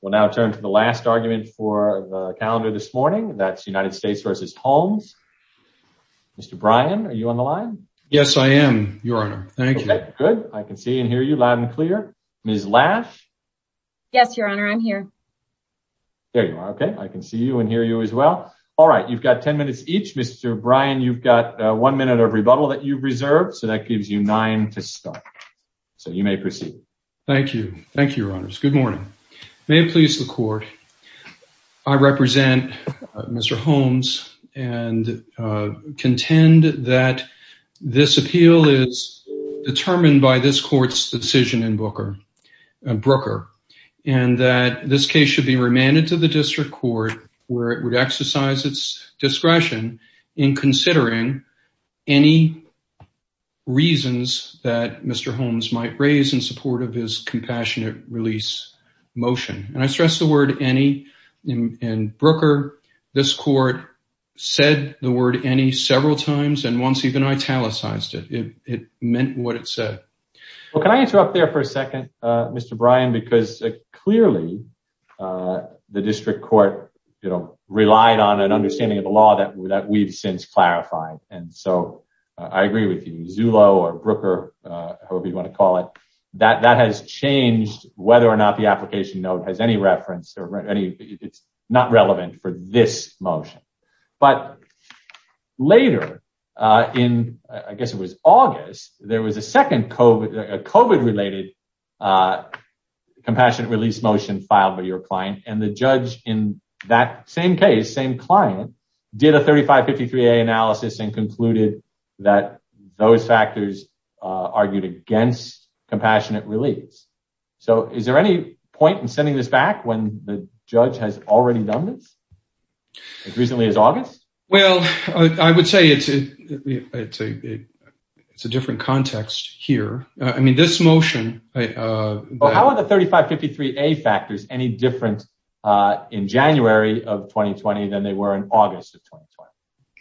We'll now turn to the last argument for the calendar this morning. That's United States versus Holmes. Mr. Bryan, are you on the line? Yes, I am, Your Honor. Thank you. Good. I can see and hear you loud and clear. Ms. Lash? Yes, Your Honor. I'm here. There you are. Okay. I can see you and hear you as well. All right. You've got 10 minutes each. Mr. Bryan, you've got one minute of rebuttal that you've reserved, so that gives you nine to start. So you may Thank you. Thank you, Your Honors. Good morning. May it please the court, I represent Mr. Holmes and contend that this appeal is determined by this court's decision in Brooker and that this case should be remanded to the district court where it would exercise its discretion in considering any reasons that Mr. Holmes might raise in support of his compassionate release motion. And I stress the word any in Brooker. This court said the word any several times and once even italicized it. It meant what it said. Well, can I interrupt there for a second, Mr. Bryan, because clearly the district court relied on an understanding of the law that we've since clarified. And so I agree with you, Zulo or Brooker, however you want to call it, that that has changed whether or not the application note has any reference or any, it's not relevant for this motion. But later in, I guess it was August, there was a second COVID related compassionate release motion filed by your client. And the same case, same client did a 3553A analysis and concluded that those factors argued against compassionate release. So is there any point in sending this back when the judge has already done this as recently as August? Well, I would say it's a different context here. I mean, this motion. Well, how are the 3553A factors any different in January of 2020 than they were in August of 2020?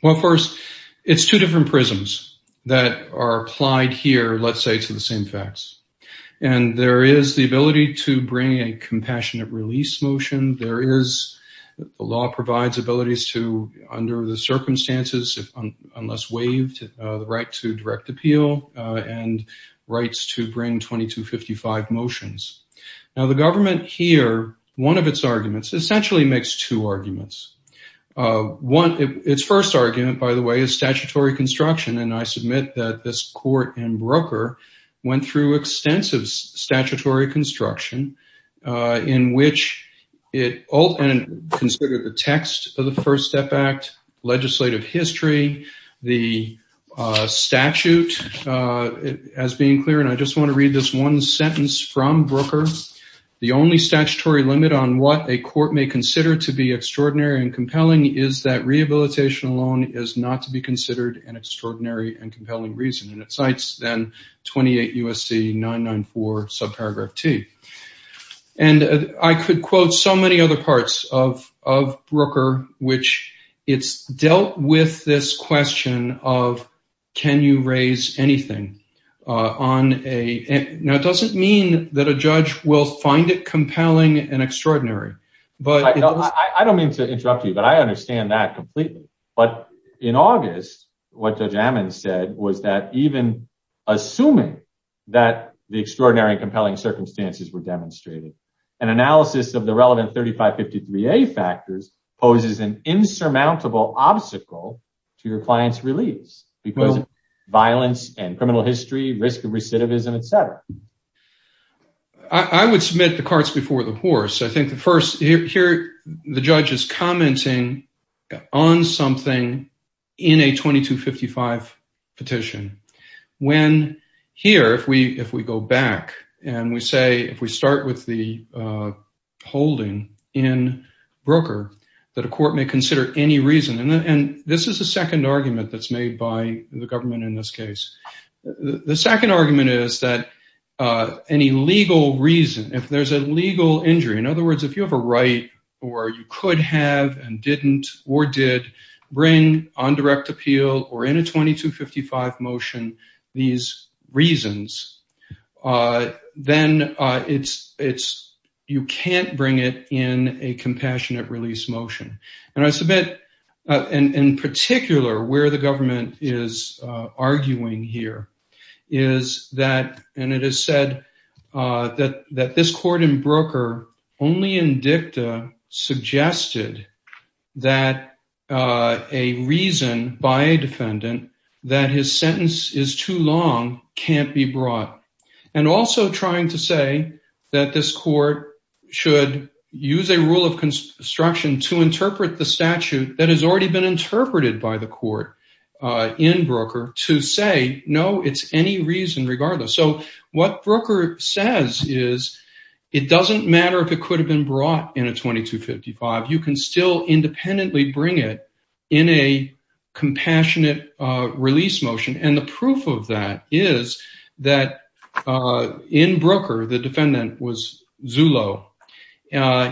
Well, first it's two different prisms that are applied here, let's say to the same facts. And there is the ability to bring a compassionate release motion. There is, the law provides abilities to, under the circumstances, unless waived, the right to motions. Now the government here, one of its arguments essentially makes two arguments. One, its first argument, by the way, is statutory construction. And I submit that this court and Brooker went through extensive statutory construction in which it considered the text of the First Step Act, legislative history, the statute as being clear. And I just want to read this one sentence from Brooker. The only statutory limit on what a court may consider to be extraordinary and compelling is that rehabilitation alone is not to be considered an extraordinary and compelling reason. And it cites then 28 U.S.C. 994 subparagraph T. And I could quote so many other Now it doesn't mean that a judge will find it compelling and extraordinary. But I don't mean to interrupt you, but I understand that completely. But in August, what Judge Ammon said was that even assuming that the extraordinary and compelling circumstances were demonstrated, an analysis of the relevant 3553A factors poses an insurmountable obstacle to your client's release because of violence and criminal history, risk of recidivism, etc. I would submit the carts before the horse. I think the first here, the judge is commenting on something in a 2255 petition when here, if we if we go back and we say if we start with the holding in Brooker that a court may consider any reason. And this is the second argument that's any legal reason. If there's a legal injury, in other words, if you have a right or you could have and didn't or did bring on direct appeal or in a 2255 motion these reasons, then it's it's you can't bring it in a compassionate release motion. And I submit in particular where the government is arguing here is that and it is said that that this court in Brooker only in dicta suggested that a reason by a defendant that his sentence is too long can't be brought. And also trying to say that this court should use a rule of construction to interpret the statute that has already been in Brooker to say, no, it's any reason regardless. So what Brooker says is it doesn't matter if it could have been brought in a 2255. You can still independently bring it in a compassionate release motion. And the proof of that is that in Brooker, the defendant was Zulo.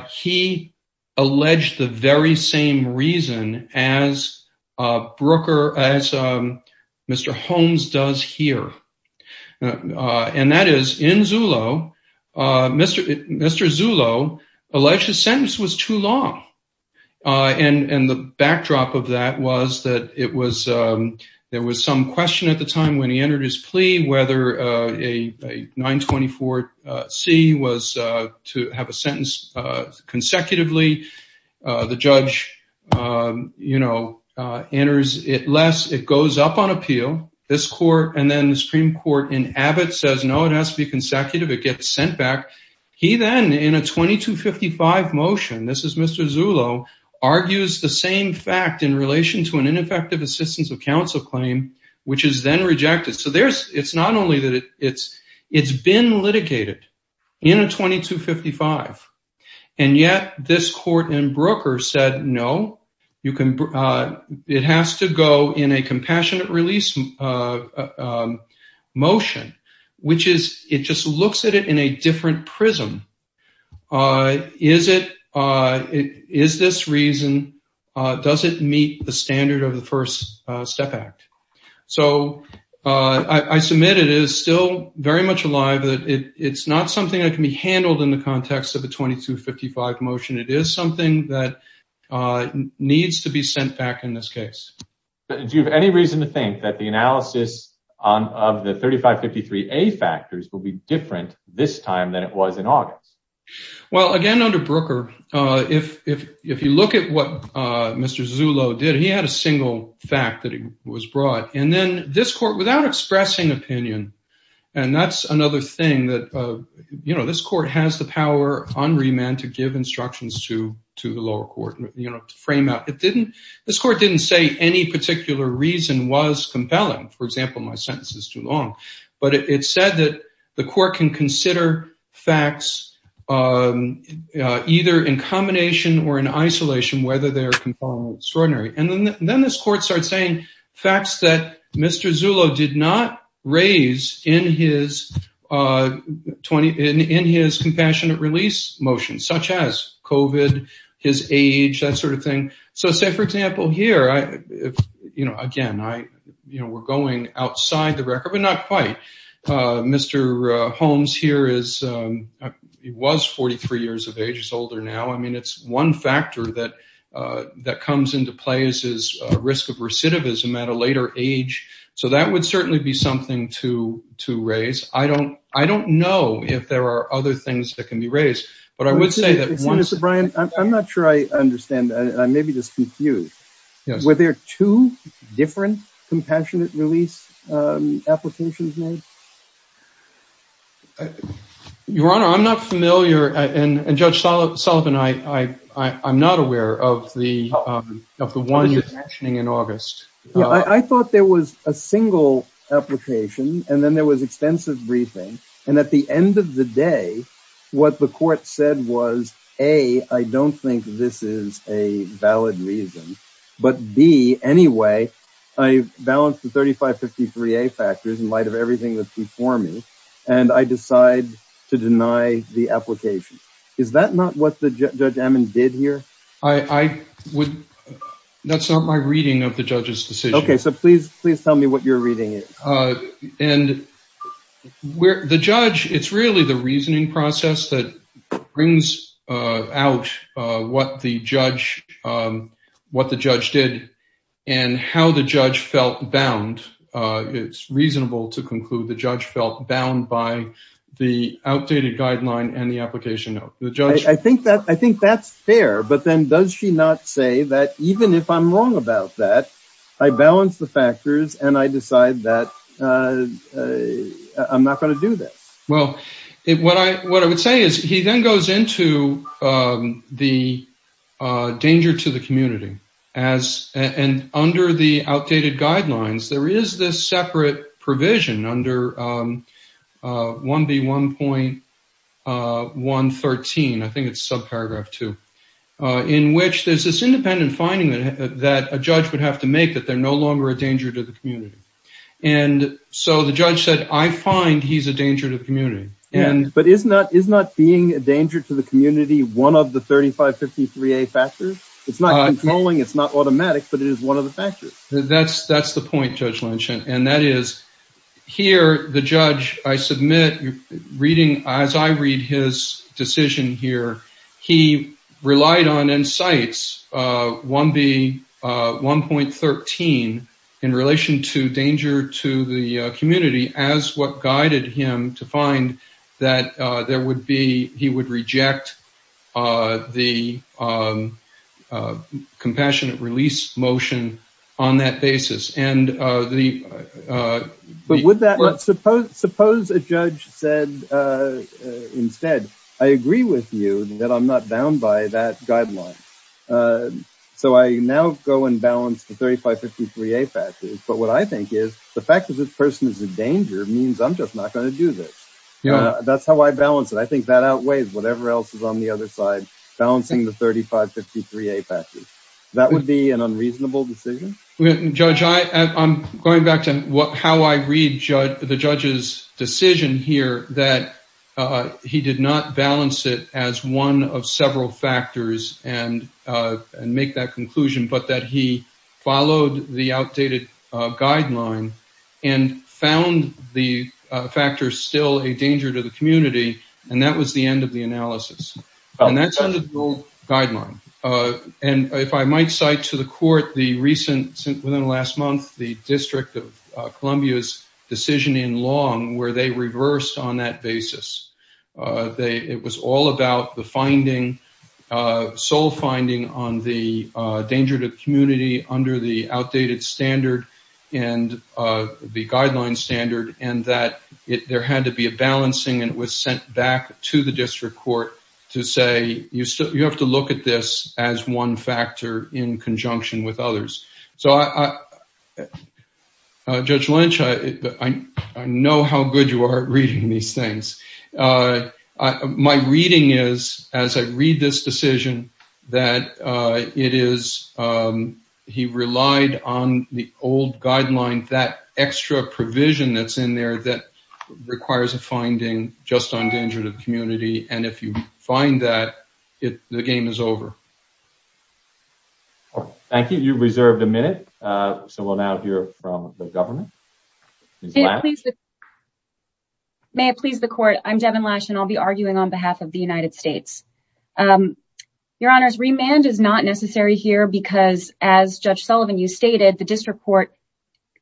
He alleged the very same reason as Brooker, as Mr. Holmes does here. And that is in Zulo, Mr. Zulo alleged the sentence was too long. And the backdrop of that was that it was there was some question at the time when he entered his plea, whether a 924 C was to have sentenced consecutively, the judge, you know, enters it less, it goes up on appeal, this court and then the Supreme Court in Abbott says no, it has to be consecutive, it gets sent back. He then in a 2255 motion, this is Mr. Zulo argues the same fact in relation to an ineffective assistance of counsel claim, which is then rejected. So there's it's not only that it's been litigated in a 2255. And yet this court in Brooker said no, you can it has to go in a compassionate release motion, which is it just looks at it in a different prism. Is it is this reason? Does it meet the standard of the First Step Act? So I submit it is still very much alive, that it's not something that can be handled in the context of a 2255 motion. It is something that needs to be sent back in this case. Do you have any reason to think that the analysis on of the 3553 A factors will be different this time than it was in August? Well, again, under Brooker, if you look at what Mr. Zulo did, he had a single fact that he was brought. And then this court without expressing opinion. And that's another thing that, you know, this court has the power on remand to give instructions to to the lower court, you know, to frame out it didn't, this court didn't say any particular reason was compelling. For example, my sentence is too long. But it said that the court can consider facts, either in combination or in isolation, whether they're extraordinary. And then then this court started saying, facts that Mr. Zulo did not raise in his 20 in his compassionate release motion, such as COVID, his age, that sort of thing. So say, for example, here, I, you know, again, I, you know, we're going outside the record, but not quite. Mr. Holmes here is, he was 43 years of age is older now. I mean, it's one factor that, that comes into play is his risk of recidivism at a later age. So that would certainly be something to to raise. I don't, I don't know if there are other things that can be raised. But I would say Brian, I'm not sure I understand. I may be just confused. Were there two different compassionate release applications made? Your Honor, I'm not familiar. And Judge Sullivan, I I'm not aware of the of the one you're mentioning in August, I thought there was a single application. And then there was extensive briefing. And at the end of the day, what the court said was, A, I don't think this is a valid reason. But B, anyway, I balanced the 3553A factors in light of everything that's before me. And I decide to deny the application. Is that not what the Judge Ammon did here? I would, that's not my reading of the judge's decision. Okay, so please, please tell me what your reading is. And where the judge, it's really the reasoning process that brings out what the judge, what the judge did, and how the judge felt bound. It's reasonable to conclude the judge felt bound by the outdated guideline and the application of the judge. I think that I think that's fair. But then does she not say that even if I'm wrong about that, I balance the factors and I decide that I'm not going to do this? Well, it what I what I would say is he then goes into the danger to the community, as and under the outdated guidelines, there is this separate provision under 1B1.113. I think it's subparagraph two, in which there's this independent finding that a judge would have to make that they're no longer a danger to the community. And so the judge said, I find he's a danger to the community. And, but is not, is not being a danger to the community, one of the 3553A factors? It's not controlling, it's not automatic, but it is one of the factors. That's, that's the point Judge Lynch. And that is here, the judge, I submit reading, as I read his decision here, he relied on and cites 1B1.13 in relation to danger to the community as what guided him to find that there would be, he would reject the compassionate release motion on that basis. And the. But would that, suppose, suppose a judge said, instead, I agree with you that I'm not bound by that guideline. So I now go and balance the 3553A factors. But what I think is the fact that this person is in danger means I'm just not going to do this. That's how I balance it. I think that outweighs whatever else is on the other side, balancing the 3553A factors. That would be an unreasonable decision? Judge, I'm going back to what, how I read the judge's decision here that he did not balance it as one of several factors and make that conclusion, but that he followed the outdated guideline and found the factor still a danger to the community. And that was the end of the analysis. And that's under the old guideline. And if I might cite to the court the recent, within the last month, the District of Columbia's decision in Long, where they reversed on that basis. It was all about the finding, sole finding on the danger to the community under the outdated standard and the guideline standard, and that there had to be a balancing. And it was sent back to the district court to say, you have to look at this as one factor in conjunction with others. So, Judge Lynch, I know how good you are at reading these things. My reading is, as I read this decision, that it is, he relied on the old guideline, that extra provision that's in there that requires a finding just on danger to the community. And if you find that it, the game is over. Thank you. You reserved a minute. So we'll now hear from the government. May it please the court. I'm Devin Lash and I'll be arguing on behalf of the United States. Your honors, remand is not necessary here because as Judge Sullivan, you stated the district court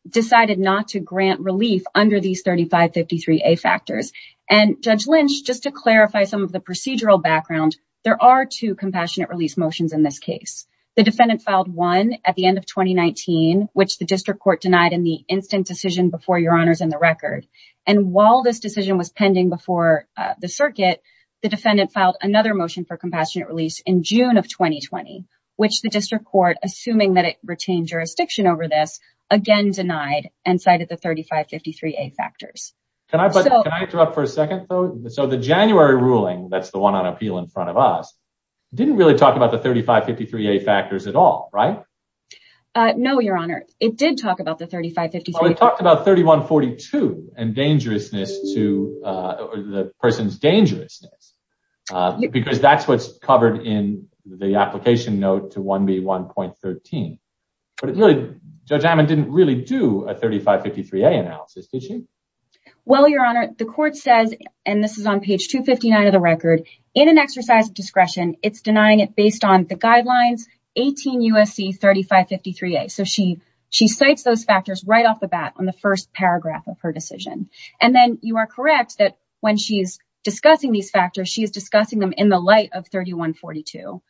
decided not to grant relief under these 3553A factors. And Judge Lynch, just to clarify some of the procedural background, there are two compassionate release motions in this case. The defendant filed one at the end of 2019, which the district court denied in the instant decision before your honors in the record. And while this decision was pending before the circuit, the defendant filed another motion for compassionate release in June of 2020, which the district court, assuming that it retained jurisdiction over this, again, denied and cited the 3553A factors. Can I interrupt for a second though? So the January ruling, that's the one on appeal in front of us, didn't really talk about the 3553A factors at all, right? No, your honor. It did talk about the 3553A. It talked about 3142 and dangerousness to the person's dangerousness, because that's what's covered in the application note to 1B 1.13. But it really, Judge Hammond didn't really do a 3553A analysis, did she? Well, your honor, the court says, and this is on page 259 of the record, in an exercise of discretion, it's denying it based on the guidelines, 18 USC 3553A. So she, she cites those factors right off the bat on the first paragraph of her decision. And then you are correct that when she's discussing these factors, she is discussing them in the light of 3142.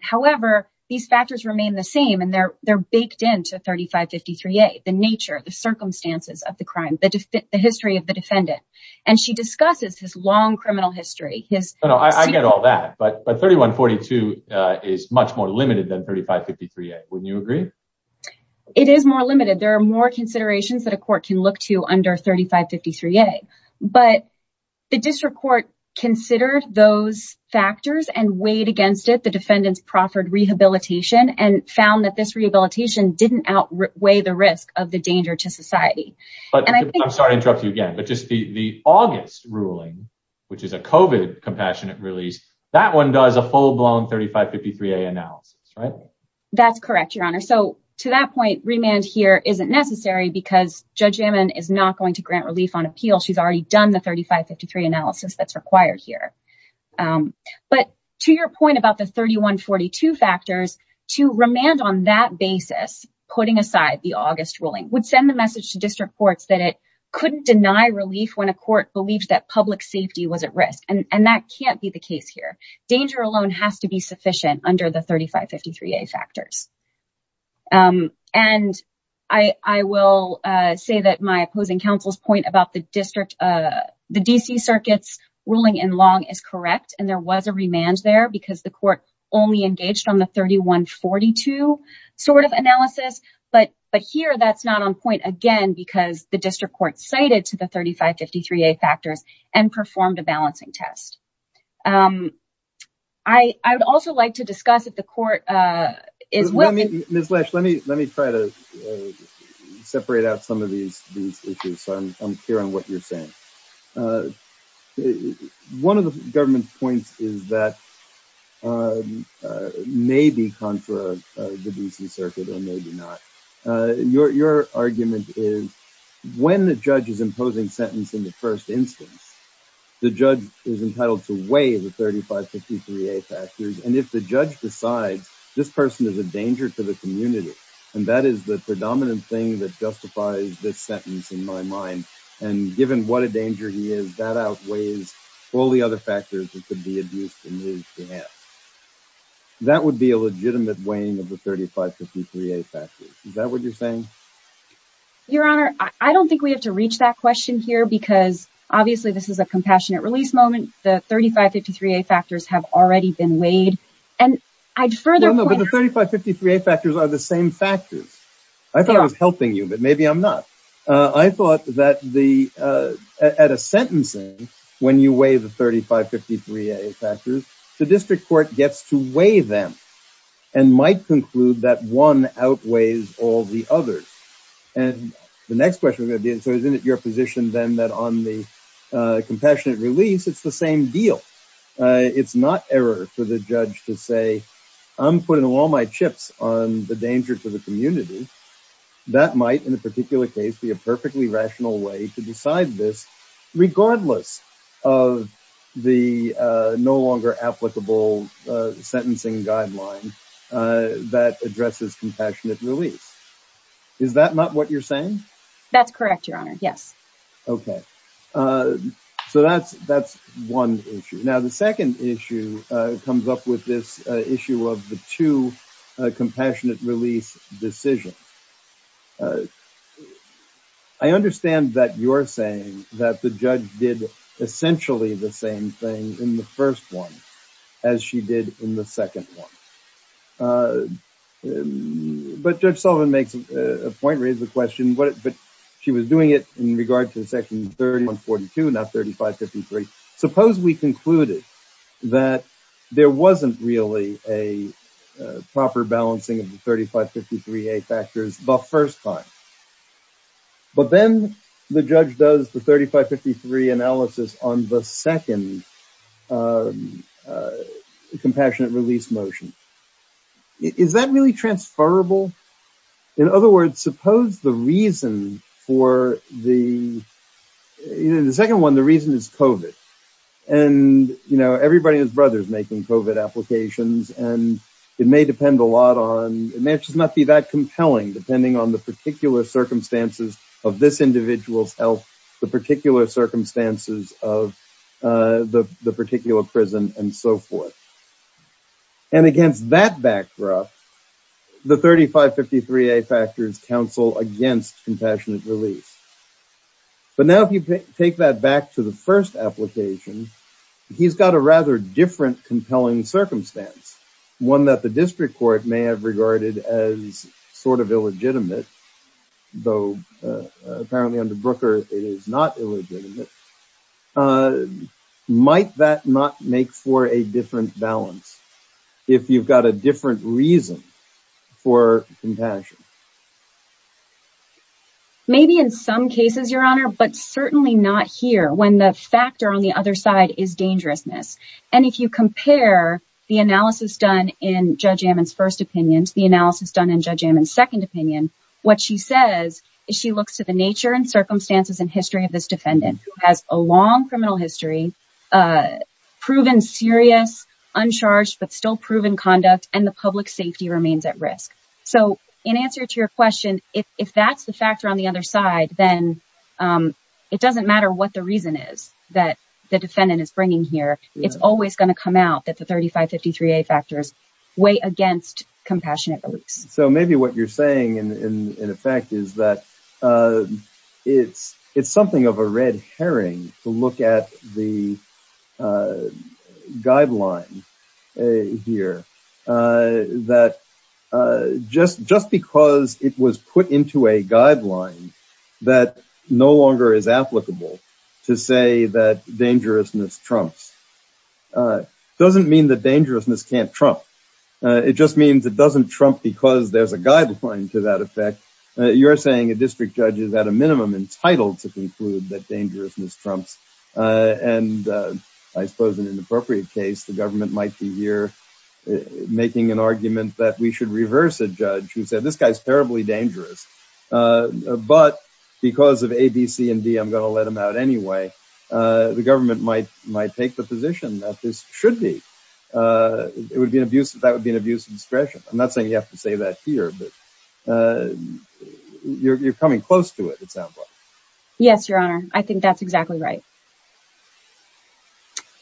However, these factors remain the same and they're, they're baked into 3553A, the nature of the circumstances of the crime, the history of the defendant. And she discusses his long criminal history. I get all that, but 3142 is much more limited than 3553A. Wouldn't you agree? It is more limited. There are more considerations that a court can look to under 3553A, but the district court considered those factors and weighed against it. The defendants proffered rehabilitation and found that this rehabilitation didn't outweigh the risk of the danger to society. I'm sorry to interrupt you again, but just the August ruling, which is a COVID compassionate release, that one does a full-blown 3553A analysis, right? That's correct, Your Honor. So to that point, remand here isn't necessary because Judge Ammon is not going to grant relief on appeal. She's already done the 3553 analysis that's required here. But to your point about the 3142 factors, to remand on that basis, putting aside the August ruling would send the message to district courts that it couldn't deny relief when a court believed that public safety was at risk. And that can't be the case here. Danger alone has to be sufficient under the 3553A factors. And I will say that my opposing counsel's point about the district, the D.C. circuit's ruling in Long is correct, and there was a remand there because the court only engaged on the 3142 sort of analysis. But here, that's not on point again because the district court cited to the 3553A factors and performed a balancing test. I would also like to discuss if the court is willing... Ms. Lash, let me try to separate out some of these issues so I'm clear on what you're saying. One of the government's points is that maybe contra the D.C. circuit or maybe not. Your argument is when the judge is imposing in the first instance, the judge is entitled to weigh the 3553A factors. And if the judge decides this person is a danger to the community, and that is the predominant thing that justifies this sentence in my mind, and given what a danger he is, that outweighs all the other factors that could be abused in his behalf. That would be a legitimate weighing of the 3553A factors. Is that what you're saying? Your Honor, I don't think we have to reach that question here because obviously this is a compassionate release moment. The 3553A factors have already been weighed, and I'd further point... No, no, but the 3553A factors are the same factors. I thought I was helping you, but maybe I'm not. I thought that at a sentencing, when you weigh the 3553A factors, the district court gets to weigh them and might conclude that one outweighs all the others. And the next question would be, so isn't it your position then that on the compassionate release, it's the same deal? It's not error for the judge to say, I'm putting all my chips on the danger to the community. That might, in a particular case, be a perfectly rational way to decide this, of the no longer applicable sentencing guideline that addresses compassionate release. Is that not what you're saying? That's correct, Your Honor. Yes. Okay. So that's one issue. Now, the second issue comes up with this issue of the two compassionate release decisions. I understand that you're saying that the judge did essentially the same thing in the first one as she did in the second one. But Judge Sullivan makes a point, raises the question, but she was doing it in regard to the section 3142, not 3553. Suppose we concluded that there wasn't really a the first time. But then the judge does the 3553 analysis on the second compassionate release motion. Is that really transferable? In other words, suppose the reason for the... In the second one, the reason is COVID. And everybody and his brothers making COVID applications. And it may depend a lot on... It may just not be that compelling, depending on the particular circumstances of this individual's health, the particular circumstances of the particular prison, and so forth. And against that backdrop, the 3553A factors counsel against compassionate release. But now if you take that back to the first application, he's got a rather different compelling circumstance, one that the district court may have regarded as sort of illegitimate, though apparently under Brooker it is not illegitimate. Might that not make for a different balance if you've got a different reason for compassion? Maybe in some cases, Your Honor, but certainly not here when the factor on the other side is dangerousness. And if you compare the analysis done in Judge Ammon's first opinion to the analysis done in Judge Ammon's second opinion, what she says is she looks to the nature and circumstances and history of this defendant, who has a long criminal history, proven serious, uncharged, but still proven conduct, and the public safety remains at risk. So in answer to your question, if that's the factor on the other side, then it doesn't matter what the reason is that the it's always going to come out that the 3553A factors weigh against compassionate release. So maybe what you're saying in effect is that it's something of a red herring to look at the guideline here, that just because it was put into a guideline that no longer is applicable to say that dangerousness trumps doesn't mean that dangerousness can't trump. It just means it doesn't trump because there's a guideline to that effect. You're saying a district judge is at a minimum entitled to conclude that dangerousness trumps. And I suppose in an appropriate case, the government might be here making an argument that we should reverse a judge who said this guy's terribly dangerous. But because of A, B, C, and D, I'm going to let him out anyway. The government might take the position that this should be. That would be an abuse of discretion. I'm not saying you have to say that here, but you're coming close to it, it sounds like. Yes, Your Honor. I think that's exactly right.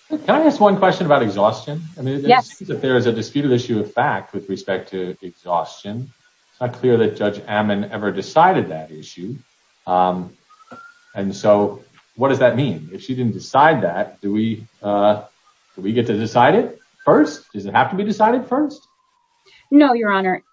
Can I ask one question about exhaustion? I mean, there is a disputed issue fact with respect to exhaustion. It's not clear that Judge Ammon ever decided that issue. And so what does that mean? If she didn't decide that, do we get to decide it first? Does it have to be decided first? No, Your Honor.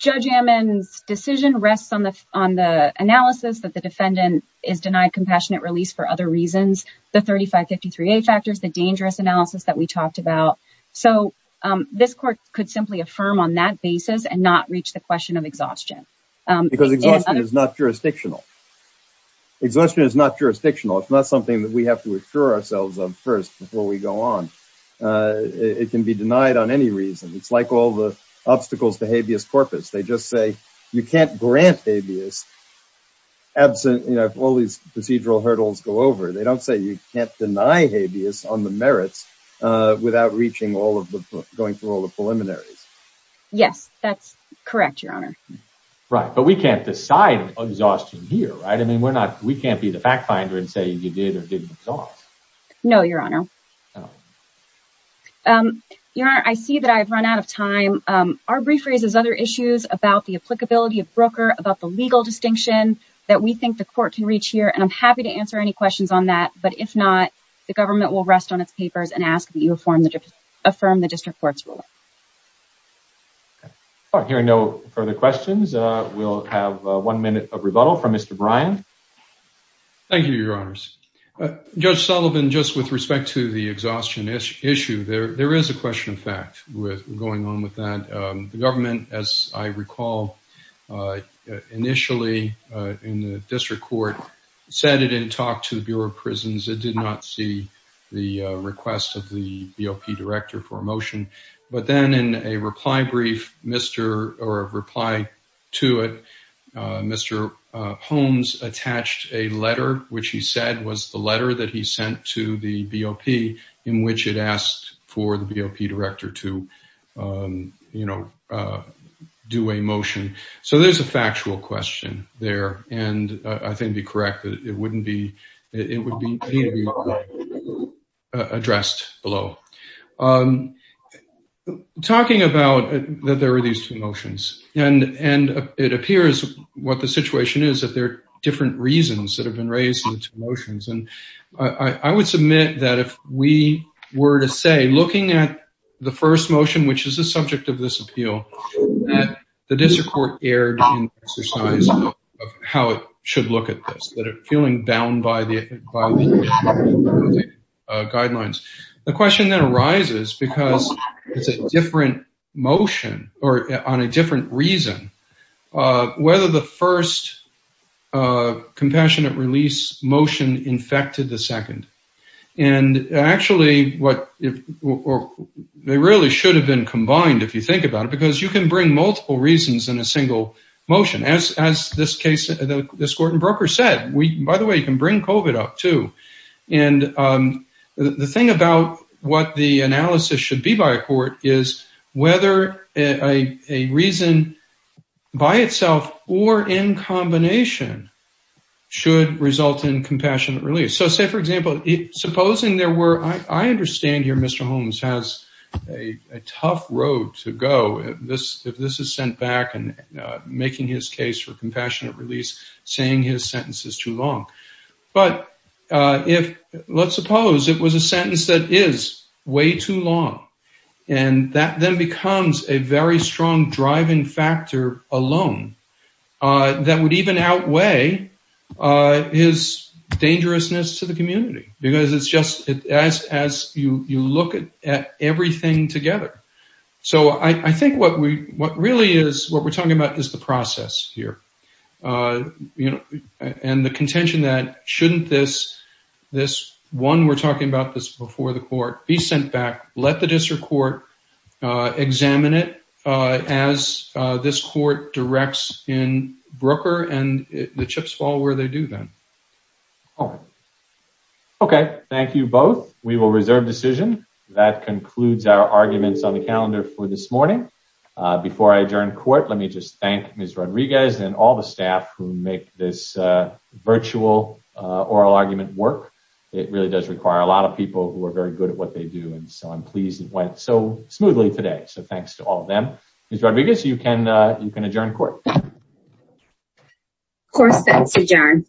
Judge Ammon's decision rests on the analysis that the defendant is denied compassionate release for other reasons. The 3553A factors, the dangerous analysis that we talked about. So this court could simply affirm on that basis and not reach the question of exhaustion. Because exhaustion is not jurisdictional. Exhaustion is not jurisdictional. It's not something that we have to assure ourselves of first before we go on. It can be denied on any reason. It's like all the obstacles to habeas corpus. They just say you can't grant habeas absent, you know, if all these procedural hurdles go over. They don't say you can't deny habeas on the merits without reaching all of the, going through all the preliminaries. Yes, that's correct, Your Honor. Right, but we can't decide exhaustion here, right? I mean, we're not, we can't be the fact finder and say you did or didn't exhaust. No, Your Honor. Your Honor, I see that I've run out of time. Our brief raises other issues about the applicability of broker, about the legal distinction that we think the court can reach here. And I'm happy to answer any questions on that. But if not, the government will rest on its papers and ask that you affirm the district court's rule. All right, hearing no further questions, we'll have one minute of rebuttal from Mr. Bryan. Thank you, Your Honors. Judge Sullivan, just with respect to the exhaustion issue, there is a question of fact with going on with that. The government, as I recall, initially in the district court said it didn't talk to the Bureau of Prisons. It did not see the request of the BOP director for a motion. But then in a reply brief, Mr., or a reply to it, Mr. Holmes attached a letter which he said was the letter that he sent to the BOP in which it asked for the BOP director to, you know, do a motion. So there's a factual question there. And I think it'd be correct that it wouldn't be, it would be addressed below. Talking about that there are these two motions, and it appears what the situation is that there are different reasons that have been raised in motions. And I would submit that if we were to say looking at the first motion, which is the subject of this appeal, that the district court erred in exercise of how it should look at this, that it feeling bound by the guidelines. The question that arises because it's a different motion, or on a different reason, whether the first compassionate release motion infected the second. And actually, they really should have been combined if you think about it, because you can bring multiple reasons in a single motion. As this case, this court in Broker said, by the way, can bring COVID up too. And the thing about what the analysis should be by a court is whether a reason by itself or in combination should result in compassionate release. So say, for example, supposing there were, I understand here, Mr. Holmes has a tough road to go if this is sent back and making his case for compassionate release, saying his sentence is too long. But let's suppose it was a sentence that is way too long. And that then becomes a very strong driving factor alone that would even outweigh his dangerousness to the community. Because it's just as you look at everything together. So I think what we what really is what we're talking about is the process here. And the contention that shouldn't this one we're talking about this before the court be sent back, let the district court examine it as this court directs in Broker and the chips fall where they do then. Okay, thank you both. We will reserve decision. That concludes our arguments on the calendar for this morning. Before I adjourn court, let me just thank Ms. Rodriguez and all the staff who make this virtual oral argument work. It really does require a lot of people who are very good at what they do. And so I'm pleased it went so smoothly today. So thanks to all of them. Ms. Rodriguez, you can adjourn court. Court is adjourned.